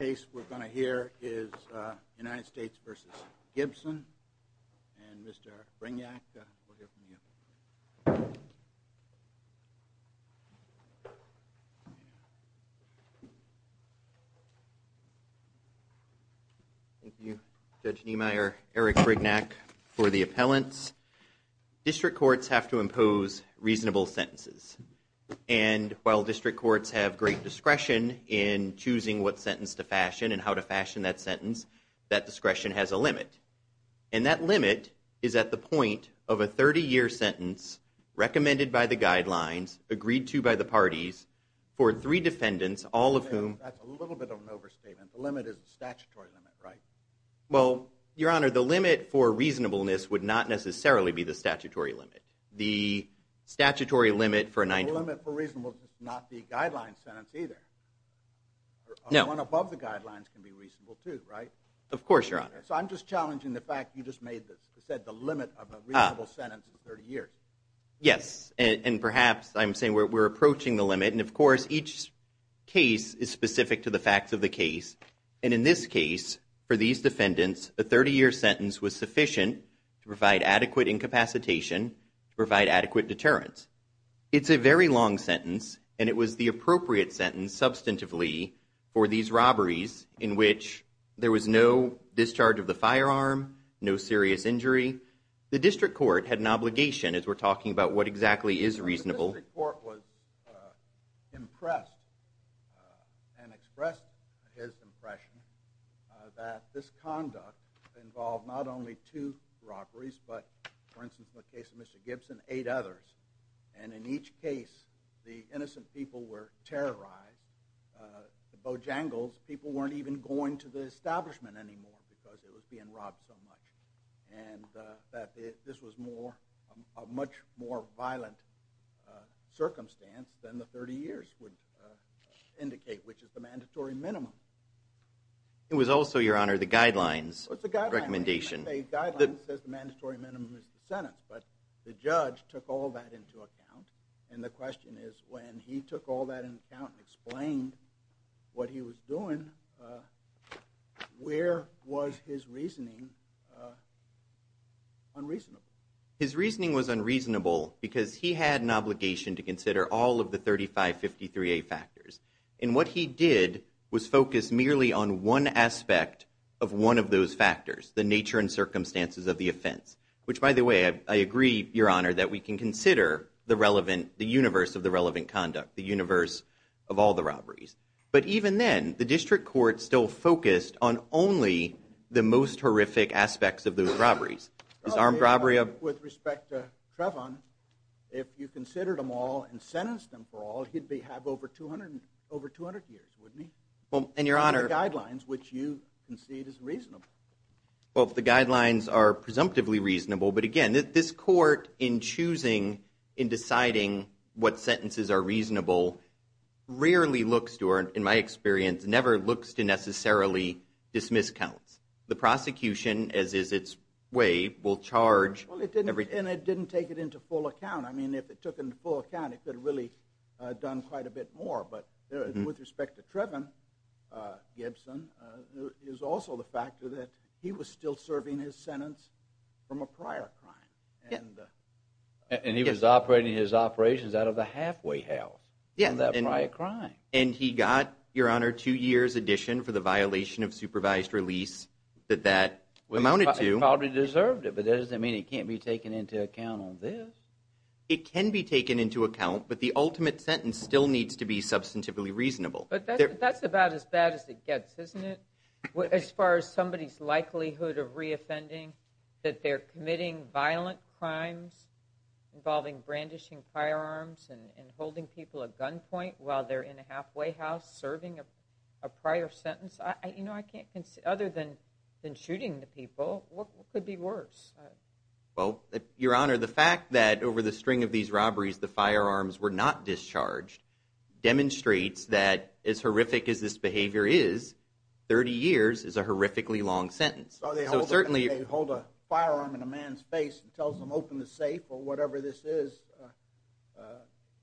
The case we're going to hear is United States v. Gibson, and Mr. Brignac, we'll hear from you. Thank you, Judge Niemeyer, Eric Brignac, for the appellants. District courts have to impose reasonable sentences. And while district courts have great discretion in choosing what sentence to fashion and how to fashion that sentence, that discretion has a limit. And that limit is at the point of a 30-year sentence recommended by the guidelines, agreed to by the parties, for three defendants, all of whom... That's a little bit of an overstatement. The limit is the statutory limit, right? Well, Your Honor, the limit for reasonableness would not necessarily be the statutory limit. The statutory limit for a 90-year... The limit for reasonableness is not the guideline sentence either. No. One above the guidelines can be reasonable too, right? Of course, Your Honor. So I'm just challenging the fact you just said the limit of a reasonable sentence is 30 years. Yes, and perhaps I'm saying we're approaching the limit. And of course, each case is specific to the facts of the case. And in this case, for these defendants, a 30-year sentence was sufficient to provide adequate incapacitation to provide adequate deterrence. It's a very long sentence, and it was the appropriate sentence, substantively, for these robberies in which there was no discharge of the firearm, no serious injury. The district court had an obligation, as we're talking about what exactly is reasonable. The district court was impressed and expressed his impression that this conduct involved not only two robberies, but, for instance, in the case of Mr. Gibson, eight others. And in each case, the innocent people were terrorized. The Bojangles, people weren't even going to the establishment anymore because it was being robbed so much. And this was a much more violent circumstance than the 30 years would indicate, which is the mandatory minimum. It was also, Your Honor, the guidelines recommendation. The guidelines says the mandatory minimum is the sentence, but the judge took all that into account. And the question is, when he took all that into account and explained what he was doing, where was his reasoning unreasonable? His reasoning was unreasonable because he had an obligation to consider all of the 3553A factors. And what he did was focus merely on one aspect of one of those factors, the nature and circumstances of the offense. Which, by the way, I agree, Your Honor, that we can consider the universe of the relevant conduct, the universe of all the robberies. But even then, the district court still focused on only the most horrific aspects of those robberies. With respect to Trevon, if you considered them all and sentenced them for all, he'd have over 200 years, wouldn't he? And the guidelines, which you concede is reasonable. Well, the guidelines are presumptively reasonable, but again, this court, in choosing, in deciding what sentences are reasonable, rarely looks to, or in my experience, never looks to necessarily dismiss counts. The prosecution, as is its way, will charge everything. And it didn't take it into full account. I mean, if it took it into full account, it could have really done quite a bit more. But with respect to Trevon Gibson, it was also the fact that he was still serving his sentence from a prior crime. And he was operating his operations out of the halfway house in that prior crime. And he got, Your Honor, two years addition for the violation of supervised release that that amounted to. He probably deserved it, but that doesn't mean it can't be taken into account on this. It can be taken into account, but the ultimate sentence still needs to be substantively reasonable. But that's about as bad as it gets, isn't it? As far as somebody's likelihood of reoffending, that they're committing violent crimes involving brandishing firearms and holding people at gunpoint while they're in a halfway house serving a prior sentence, you know, other than shooting the people, what could be worse? Well, Your Honor, the fact that over the string of these robberies the firearms were not discharged demonstrates that as horrific as this behavior is, 30 years is a horrifically long sentence. So they hold a firearm in a man's face and tells him, open the safe or whatever this is.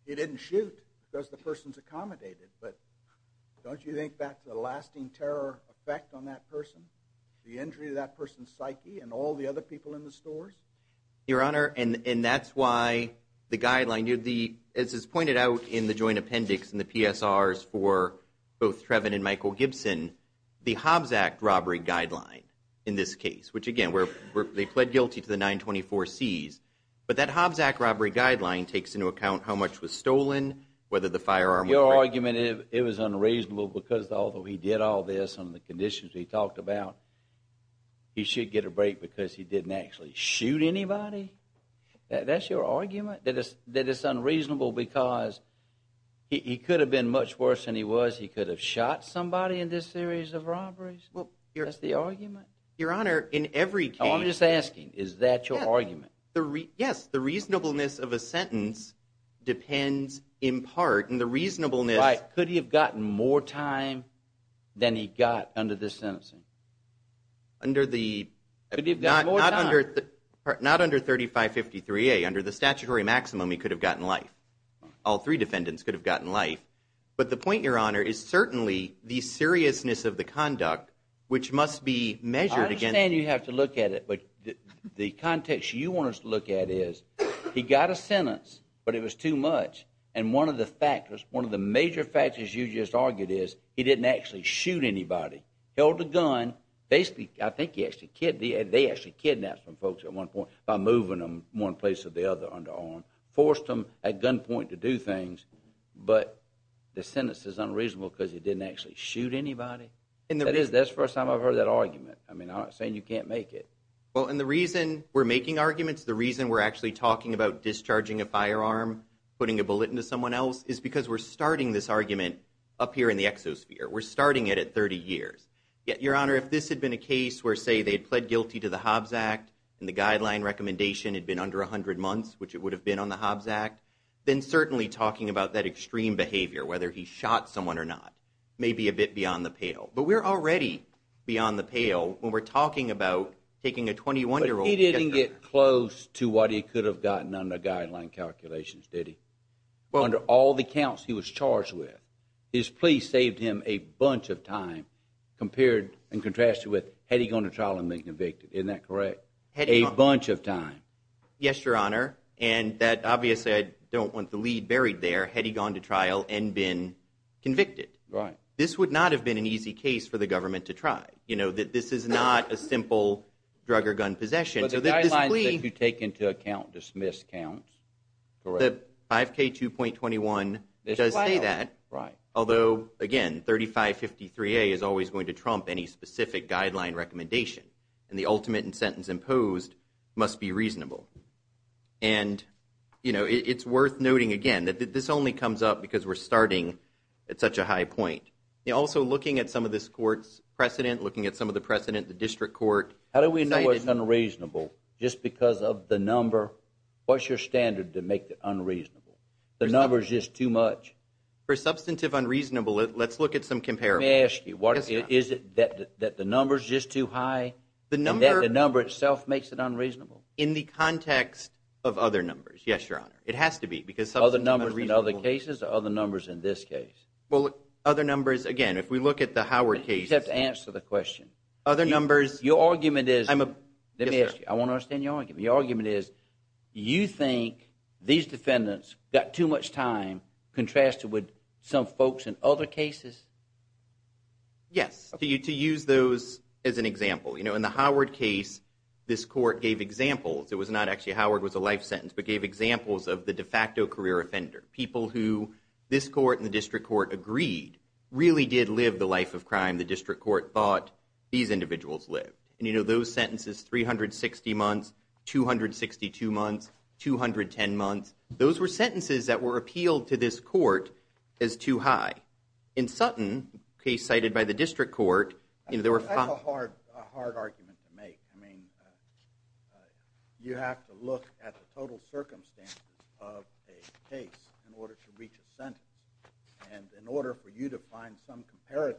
He didn't shoot because the person's accommodated. But don't you think that's a lasting terror effect on that person, the injury to that person's psyche and all the other people in the stores? Your Honor, and that's why the guideline, as is pointed out in the joint appendix in the PSRs for both Trevin and Michael Gibson, the Hobbs Act robbery guideline in this case, which again, they pled guilty to the 924Cs. But that Hobbs Act robbery guideline takes into account how much was stolen, whether the firearm was right. Your argument is it was unreasonable because although he did all this under the conditions we talked about, he should get a break because he didn't actually shoot anybody? That's your argument, that it's unreasonable because he could have been much worse than he was? He could have shot somebody in this series of robberies? That's the argument? Your Honor, in every case— I'm just asking, is that your argument? Yes. The reasonableness of a sentence depends in part on the reasonableness— Right. Could he have gotten more time than he got under this sentencing? Under the— Could he have gotten more time? Not under 3553A. Under the statutory maximum, he could have gotten life. All three defendants could have gotten life. But the point, Your Honor, is certainly the seriousness of the conduct, which must be measured against— I understand you have to look at it. But the context you want us to look at is he got a sentence, but it was too much. And one of the factors, one of the major factors you just argued is he didn't actually shoot anybody. Held a gun. Basically, I think he actually—they actually kidnapped some folks at one point by moving them one place or the other. Forced them at gunpoint to do things. But the sentence is unreasonable because he didn't actually shoot anybody? That's the first time I've heard that argument. I mean, I'm not saying you can't make it. Well, and the reason we're making arguments, the reason we're actually talking about discharging a firearm, putting a bullet into someone else, is because we're starting this argument up here in the exosphere. We're starting it at 30 years. Yet, Your Honor, if this had been a case where, say, they had pled guilty to the Hobbs Act and the guideline recommendation had been under 100 months, which it would have been on the Hobbs Act, then certainly talking about that extreme behavior, whether he shot someone or not, may be a bit beyond the pale. But we're already beyond the pale when we're talking about taking a 21-year-old— But he didn't get close to what he could have gotten under guideline calculations, did he? Under all the counts he was charged with, his plea saved him a bunch of time compared and contrasted with had he gone to trial and been convicted. Isn't that correct? A bunch of time. Yes, Your Honor. And that, obviously, I don't want the lead buried there, had he gone to trial and been convicted. Right. This would not have been an easy case for the government to try. You know, this is not a simple drug or gun possession. But the guidelines that you take into account dismiss counts, correct? The 5K2.21 does say that. Right. Although, again, 3553A is always going to trump any specific guideline recommendation. And the ultimate in sentence imposed must be reasonable. And, you know, it's worth noting, again, that this only comes up because we're starting at such a high point. Also, looking at some of this court's precedent, looking at some of the precedent the district court cited— How do we know it's unreasonable? Just because of the number? What's your standard to make it unreasonable? The number is just too much? For substantive unreasonable, let's look at some comparisons. Let me ask you, is it that the number is just too high and that the number itself makes it unreasonable? In the context of other numbers, yes, Your Honor. It has to be because substantive unreasonable— Other numbers in other cases or other numbers in this case? Well, other numbers, again, if we look at the Howard case— You have to answer the question. Other numbers— Your argument is— I'm a— Let me ask you. I want to understand your argument. The argument is you think these defendants got too much time contrasted with some folks in other cases? Yes. To use those as an example, you know, in the Howard case, this court gave examples. It was not actually—Howard was a life sentence, but gave examples of the de facto career offender, people who this court and the district court agreed really did live the life of crime the district court thought these individuals lived. And, you know, those sentences, 360 months, 262 months, 210 months, those were sentences that were appealed to this court as too high. In Sutton, a case cited by the district court, you know, there were— That's a hard argument to make. I mean, you have to look at the total circumstances of a case in order to reach a sentence. And in order for you to find some comparator,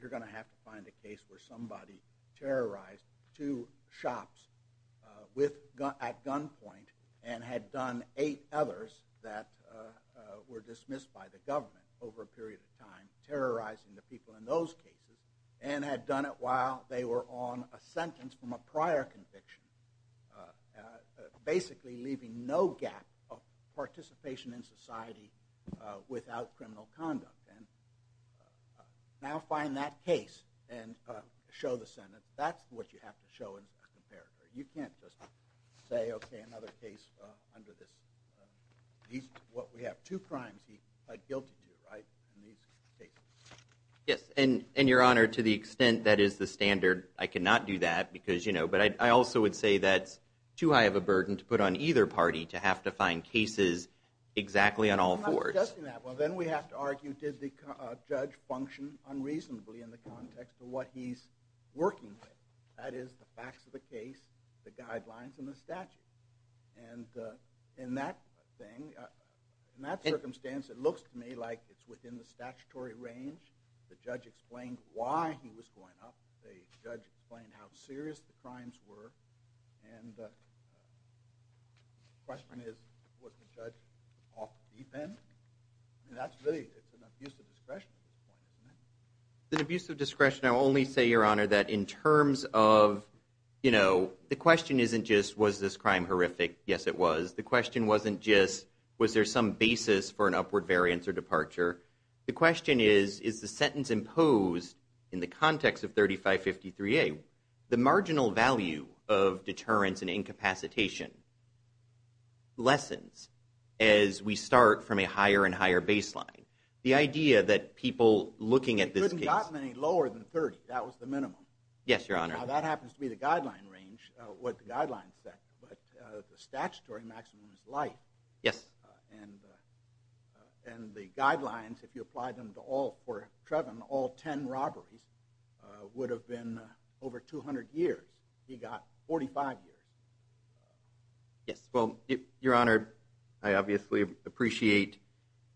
you're going to have to find a case where somebody terrorized two shops at gunpoint and had done eight others that were dismissed by the government over a period of time, terrorizing the people in those cases, and had done it while they were on a sentence from a prior conviction, basically leaving no gap of participation in society without criminal conduct. Now find that case and show the Senate that's what you have to show as a comparator. You can't just say, okay, another case under this. We have two crimes he pled guilty to, right, in these cases. Yes, and, Your Honor, to the extent that is the standard, I cannot do that because, you know— And I also would say that's too high of a burden to put on either party to have to find cases exactly on all fours. Well, then we have to argue, did the judge function unreasonably in the context of what he's working with? That is the facts of the case, the guidelines, and the statute. And in that thing, in that circumstance, it looks to me like it's within the statutory range. The judge explained why he was going up. The judge explained how serious the crimes were. And the question is, was the judge off deep end? And that's really—it's an abuse of discretion at this point, isn't it? It's an abuse of discretion. I will only say, Your Honor, that in terms of, you know, the question isn't just, was this crime horrific? Yes, it was. The question wasn't just, was there some basis for an upward variance or departure? The question is, is the sentence imposed in the context of 3553A, the marginal value of deterrence and incapacitation lessens as we start from a higher and higher baseline? The idea that people looking at this case— You couldn't have gotten any lower than 30. That was the minimum. Yes, Your Honor. Now, that happens to be the guideline range, what the guidelines said. But the statutory maximum is life. Yes. And the guidelines, if you apply them to all—for Trevin, all 10 robberies would have been over 200 years. He got 45 years. Yes. Well, Your Honor, I obviously appreciate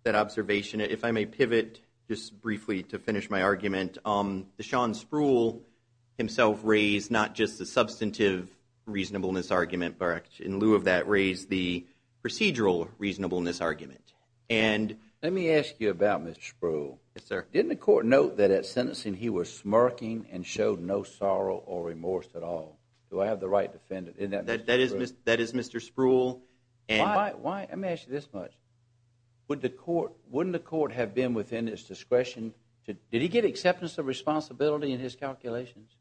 that observation. If I may pivot just briefly to finish my argument, the Sean Sproul himself raised not just the substantive reasonableness argument, but in lieu of that, raised the procedural reasonableness argument. And— Let me ask you about Mr. Sproul. Yes, sir. Didn't the court note that at sentencing he was smirking and showed no sorrow or remorse at all? Do I have the right to defend him? Isn't that Mr. Sproul? That is Mr. Sproul. Why—let me ask you this much. Wouldn't the court have been within its discretion to— Did he get acceptance of responsibility in his calculations?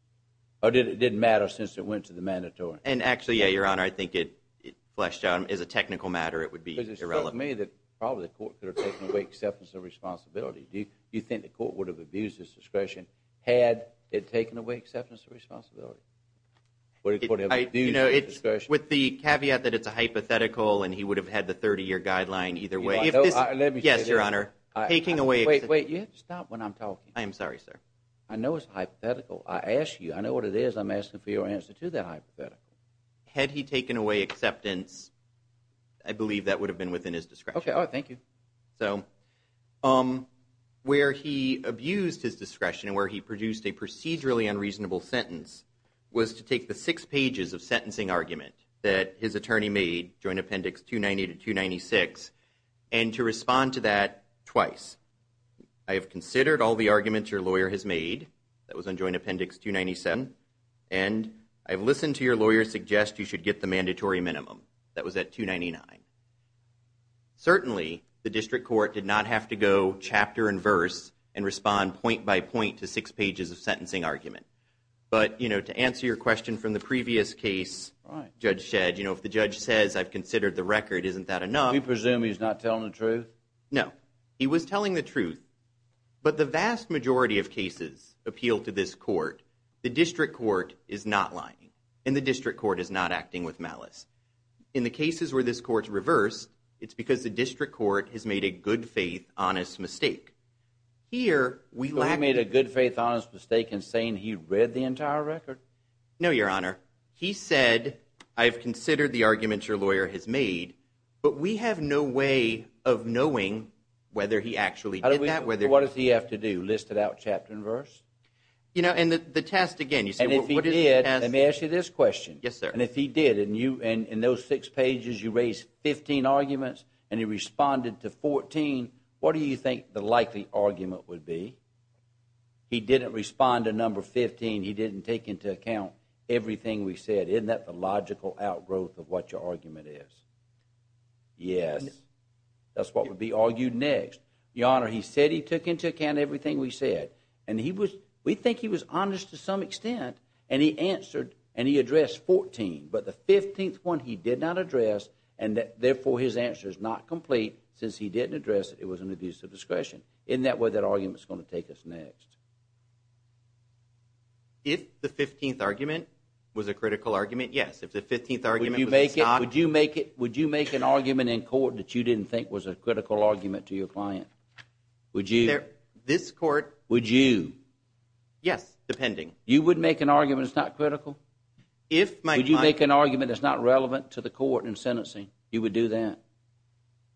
Or did it matter since it went to the mandatory? And actually, yeah, Your Honor, I think it fleshed out. As a technical matter, it would be irrelevant. Because it struck me that probably the court could have taken away acceptance of responsibility. Do you think the court would have abused its discretion had it taken away acceptance of responsibility? Would the court have abused its discretion? With the caveat that it's a hypothetical and he would have had the 30-year guideline either way. If this— Let me say this. Yes, Your Honor. Taking away— Wait, wait. You have to stop when I'm talking. I am sorry, sir. I know it's a hypothetical. I asked you. I know what it is. I'm asking for your answer to that hypothetical. Had he taken away acceptance, I believe that would have been within his discretion. Okay. All right. Thank you. So where he abused his discretion and where he produced a procedurally unreasonable sentence was to take the six pages of sentencing argument that his attorney made, Joint Appendix 290 to 296, and to respond to that twice. I have considered all the arguments your lawyer has made. That was on Joint Appendix 297. And I have listened to your lawyer suggest you should get the mandatory minimum. That was at 299. Certainly, the district court did not have to go chapter and verse and respond point by point to six pages of sentencing argument. But, you know, to answer your question from the previous case, Judge Shedd, you know, if the judge says, I've considered the record, isn't that enough? Do you presume he's not telling the truth? No. He was telling the truth. But the vast majority of cases appeal to this court. The district court is not lying, and the district court is not acting with malice. In the cases where this court's reversed, it's because the district court has made a good-faith, honest mistake. So he made a good-faith, honest mistake in saying he read the entire record? No, Your Honor. He said, I've considered the arguments your lawyer has made, but we have no way of knowing whether he actually did that. What does he have to do, list it out chapter and verse? You know, and the test, again, you say what is the test? And if he did, let me ask you this question. Yes, sir. And if he did, and in those six pages you raised 15 arguments and he responded to 14, what do you think the likely argument would be? He didn't respond to number 15. He didn't take into account everything we said. Isn't that the logical outgrowth of what your argument is? Yes. That's what would be argued next. Your Honor, he said he took into account everything we said, and we think he was honest to some extent, and he addressed 14, but the 15th one he did not address, and therefore his answer is not complete. Since he didn't address it, it was an abuse of discretion. Isn't that where that argument is going to take us next? If the 15th argument was a critical argument, yes. If the 15th argument was a stock. Would you make an argument in court that you didn't think was a critical argument to your client? Would you? This court. Would you? Yes, depending. You would make an argument that's not critical? If my client. Would you make an argument that's not relevant to the court in sentencing? You would do that?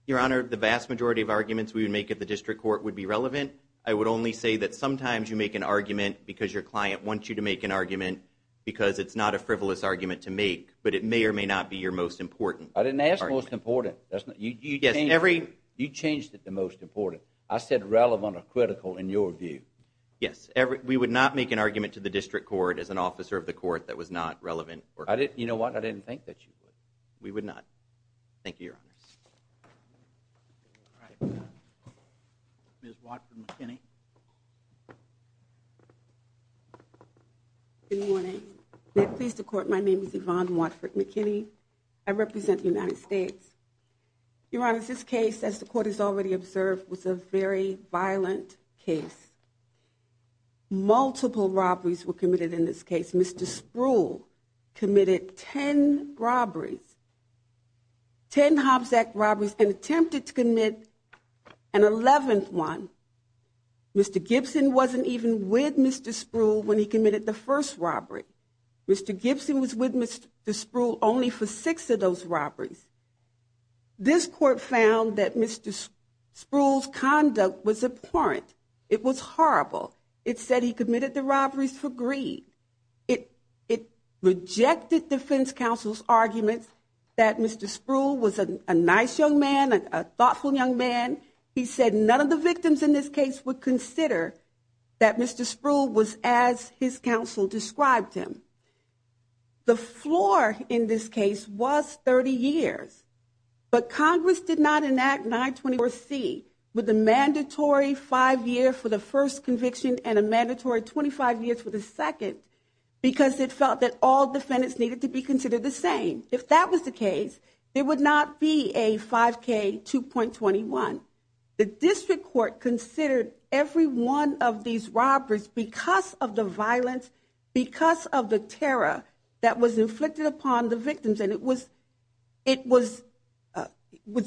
Your Honor, the vast majority of arguments we would make at the district court would be relevant. I would only say that sometimes you make an argument because your client wants you to make an argument because it's not a frivolous argument to make, but it may or may not be your most important argument. I didn't ask most important. You changed it to most important. I said relevant or critical in your view. Yes. We would not make an argument to the district court as an officer of the court that was not relevant. You know what? I didn't think that you would. We would not. Thank you, Your Honor. All right. Ms. Watford-McKinney. Good morning. May it please the court, my name is Yvonne Watford-McKinney. I represent the United States. Your Honor, this case, as the court has already observed, was a very violent case. Multiple robberies were committed in this case. Mr. Spruill committed ten robberies. Ten Hobbs Act robberies and attempted to commit an eleventh one. Mr. Gibson wasn't even with Mr. Spruill when he committed the first robbery. Mr. Gibson was with Mr. Spruill only for six of those robberies. This court found that Mr. Spruill's conduct was abhorrent. It was horrible. It said he committed the robberies for greed. It rejected defense counsel's arguments that Mr. Spruill was a nice young man, a thoughtful young man. He said none of the victims in this case would consider that Mr. Spruill was as his counsel described him. The floor in this case was 30 years. But Congress did not enact 924C with a mandatory five year for the first conviction and a mandatory 25 years for the second because it felt that all defendants needed to be considered the same. If that was the case, there would not be a 5K 2.21. The district court considered every one of these robberies because of the violence, because of the terror that was inflicted upon the victims. And it was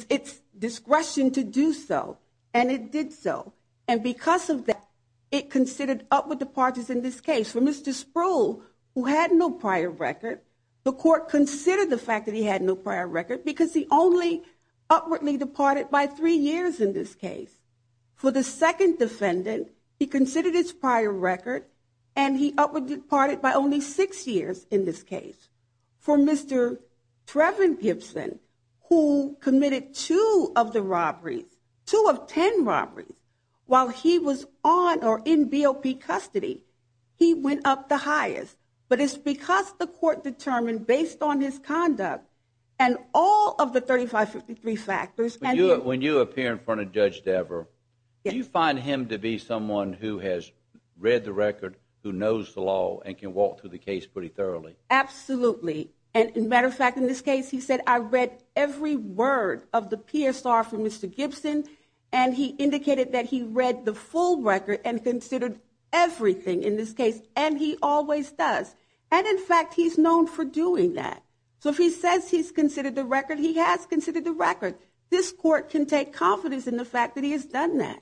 its discretion to do so. And it did so. And because of that, it considered upward departures in this case. For Mr. Spruill, who had no prior record, the court considered the fact that he had no prior record because he only upwardly departed by three years in this case. For the second defendant, he considered his prior record and he upwardly departed by only six years in this case. For Mr. Treven Gibson, who committed two of the robberies, two of ten robberies, while he was on or in BOP custody, he went up the highest. But it's because the court determined based on his conduct and all of the 3553 factors. When you appear in front of Judge Dever, do you find him to be someone who has read the record, who knows the law, and can walk through the case pretty thoroughly? Absolutely. And, as a matter of fact, in this case, he said, I read every word of the PSR from Mr. Gibson. And he indicated that he read the full record and considered everything in this case. And he always does. And, in fact, he's known for doing that. So if he says he's considered the record, he has considered the record. This court can take confidence in the fact that he has done that.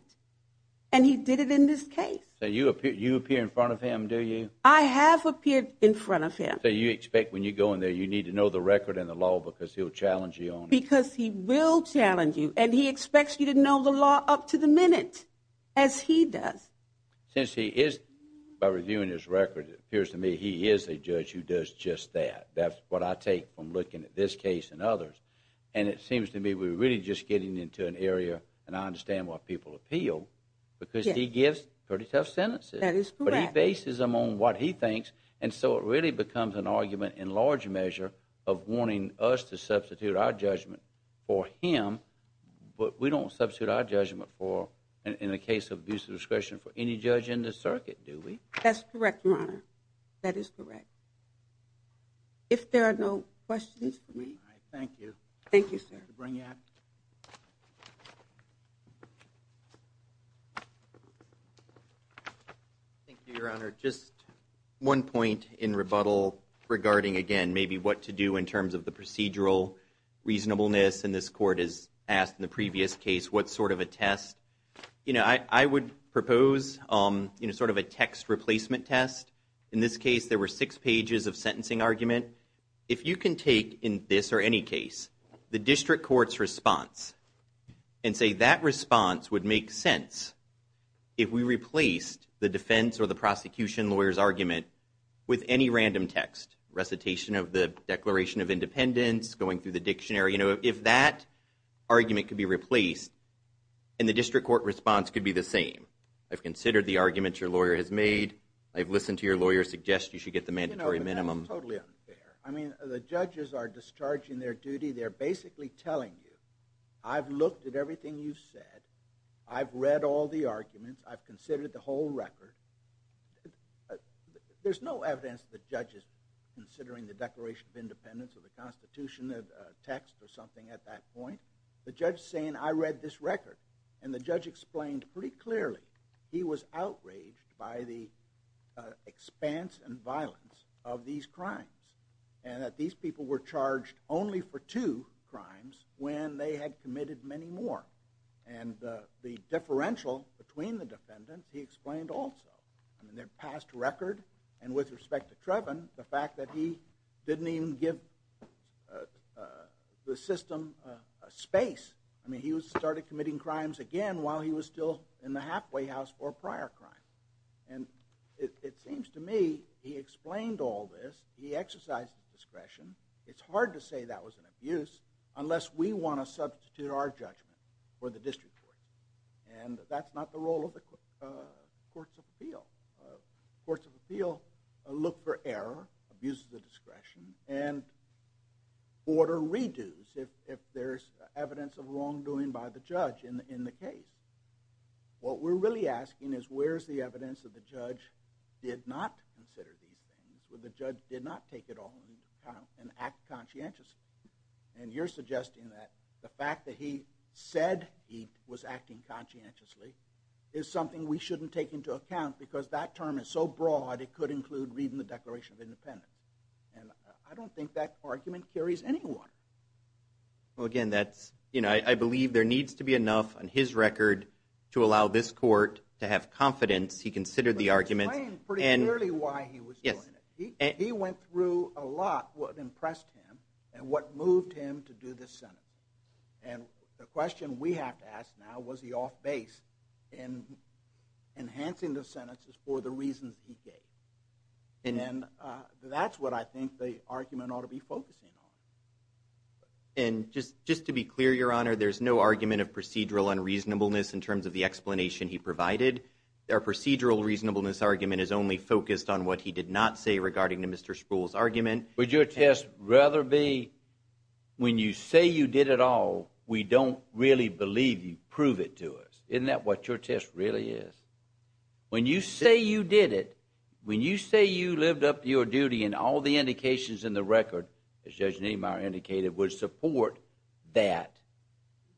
And he did it in this case. So you appear in front of him, do you? I have appeared in front of him. So you expect when you go in there, you need to know the record and the law because he'll challenge you on it? Because he will challenge you. And he expects you to know the law up to the minute, as he does. Since he is, by reviewing his record, it appears to me he is a judge who does just that. That's what I take from looking at this case and others. And it seems to me we're really just getting into an area, and I understand why people appeal, because he gives pretty tough sentences. That is correct. But he bases them on what he thinks. And so it really becomes an argument in large measure of wanting us to substitute our judgment for him. But we don't substitute our judgment for, in the case of abuse of discretion, for any judge in this circuit, do we? That's correct, Your Honor. That is correct. If there are no questions for me. All right, thank you. Thank you, sir. Thank you, Your Honor. Just one point in rebuttal regarding, again, maybe what to do in terms of the procedural reasonableness. And this court has asked in the previous case what sort of a test. You know, I would propose sort of a text replacement test. In this case, there were six pages of sentencing argument. If you can take, in this or any case, the district court's response, and say that response would make sense if we replaced the defense or the prosecution lawyer's argument with any random text, recitation of the Declaration of Independence, going through the dictionary. You know, if that argument could be replaced, then the district court response could be the same. I've considered the arguments your lawyer has made. I've listened to your lawyer suggest you should get the mandatory minimum. You know, but that's totally unfair. I mean, the judges are discharging their duty. They're basically telling you, I've looked at everything you've said. I've read all the arguments. I've considered the whole record. There's no evidence that the judge is considering the Declaration of Independence or the Constitution text or something at that point. The judge is saying, I read this record. And the judge explained pretty clearly he was outraged by the expanse and violence of these crimes and that these people were charged only for two crimes when they had committed many more. And the differential between the defendants he explained also. I mean, their past record and with respect to Trevin, the fact that he didn't even give the system a space. I mean, he started committing crimes again while he was still in the halfway house for a prior crime. And it seems to me he explained all this. He exercised discretion. It's hard to say that was an abuse unless we want to substitute our judgment for the district court. And that's not the role of the Courts of Appeal. Courts of Appeal look for error, abuses of discretion, and order redos if there's evidence of wrongdoing by the judge in the case. What we're really asking is where's the evidence that the judge did not consider these things, where the judge did not take it all into account and act conscientiously. And you're suggesting that the fact that he said he was acting conscientiously is something we shouldn't take into account because that term is so broad it could include reading the Declaration of Independence. And I don't think that argument carries any water. Well, again, I believe there needs to be enough on his record to allow this court to have confidence he considered the argument. He explained pretty clearly why he was doing it. He went through a lot what impressed him and what moved him to do this sentence. And the question we have to ask now, was he off base in enhancing the sentences for the reasons he gave? And that's what I think the argument ought to be focusing on. And just to be clear, Your Honor, there's no argument of procedural unreasonableness in terms of the explanation he provided. Our procedural reasonableness argument is only focused on what he did not say regarding to Mr. Spruill's argument. Would your test rather be, when you say you did it all, we don't really believe you prove it to us? Isn't that what your test really is? When you say you did it, when you say you lived up to your duty and all the indications in the record, as Judge Niemeyer indicated, would support that,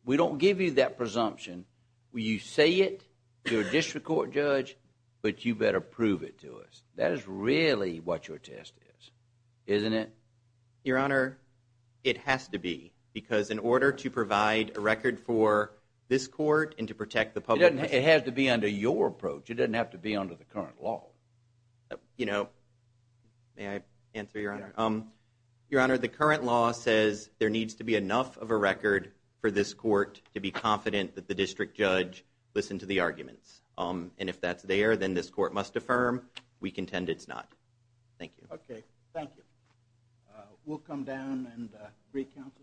we don't give you that presumption. When you say it, you're a district court judge, but you better prove it to us. That is really what your test is, isn't it? Your Honor, it has to be. Because in order to provide a record for this court and to protect the public… It has to be under your approach. It doesn't have to be under the current law. You know, may I answer, Your Honor? Your Honor, the current law says there needs to be enough of a record for this court to be confident that the district judge listened to the arguments. And if that's there, then this court must affirm. We contend it's not. Thank you. Okay, thank you. We'll come down and recounsel.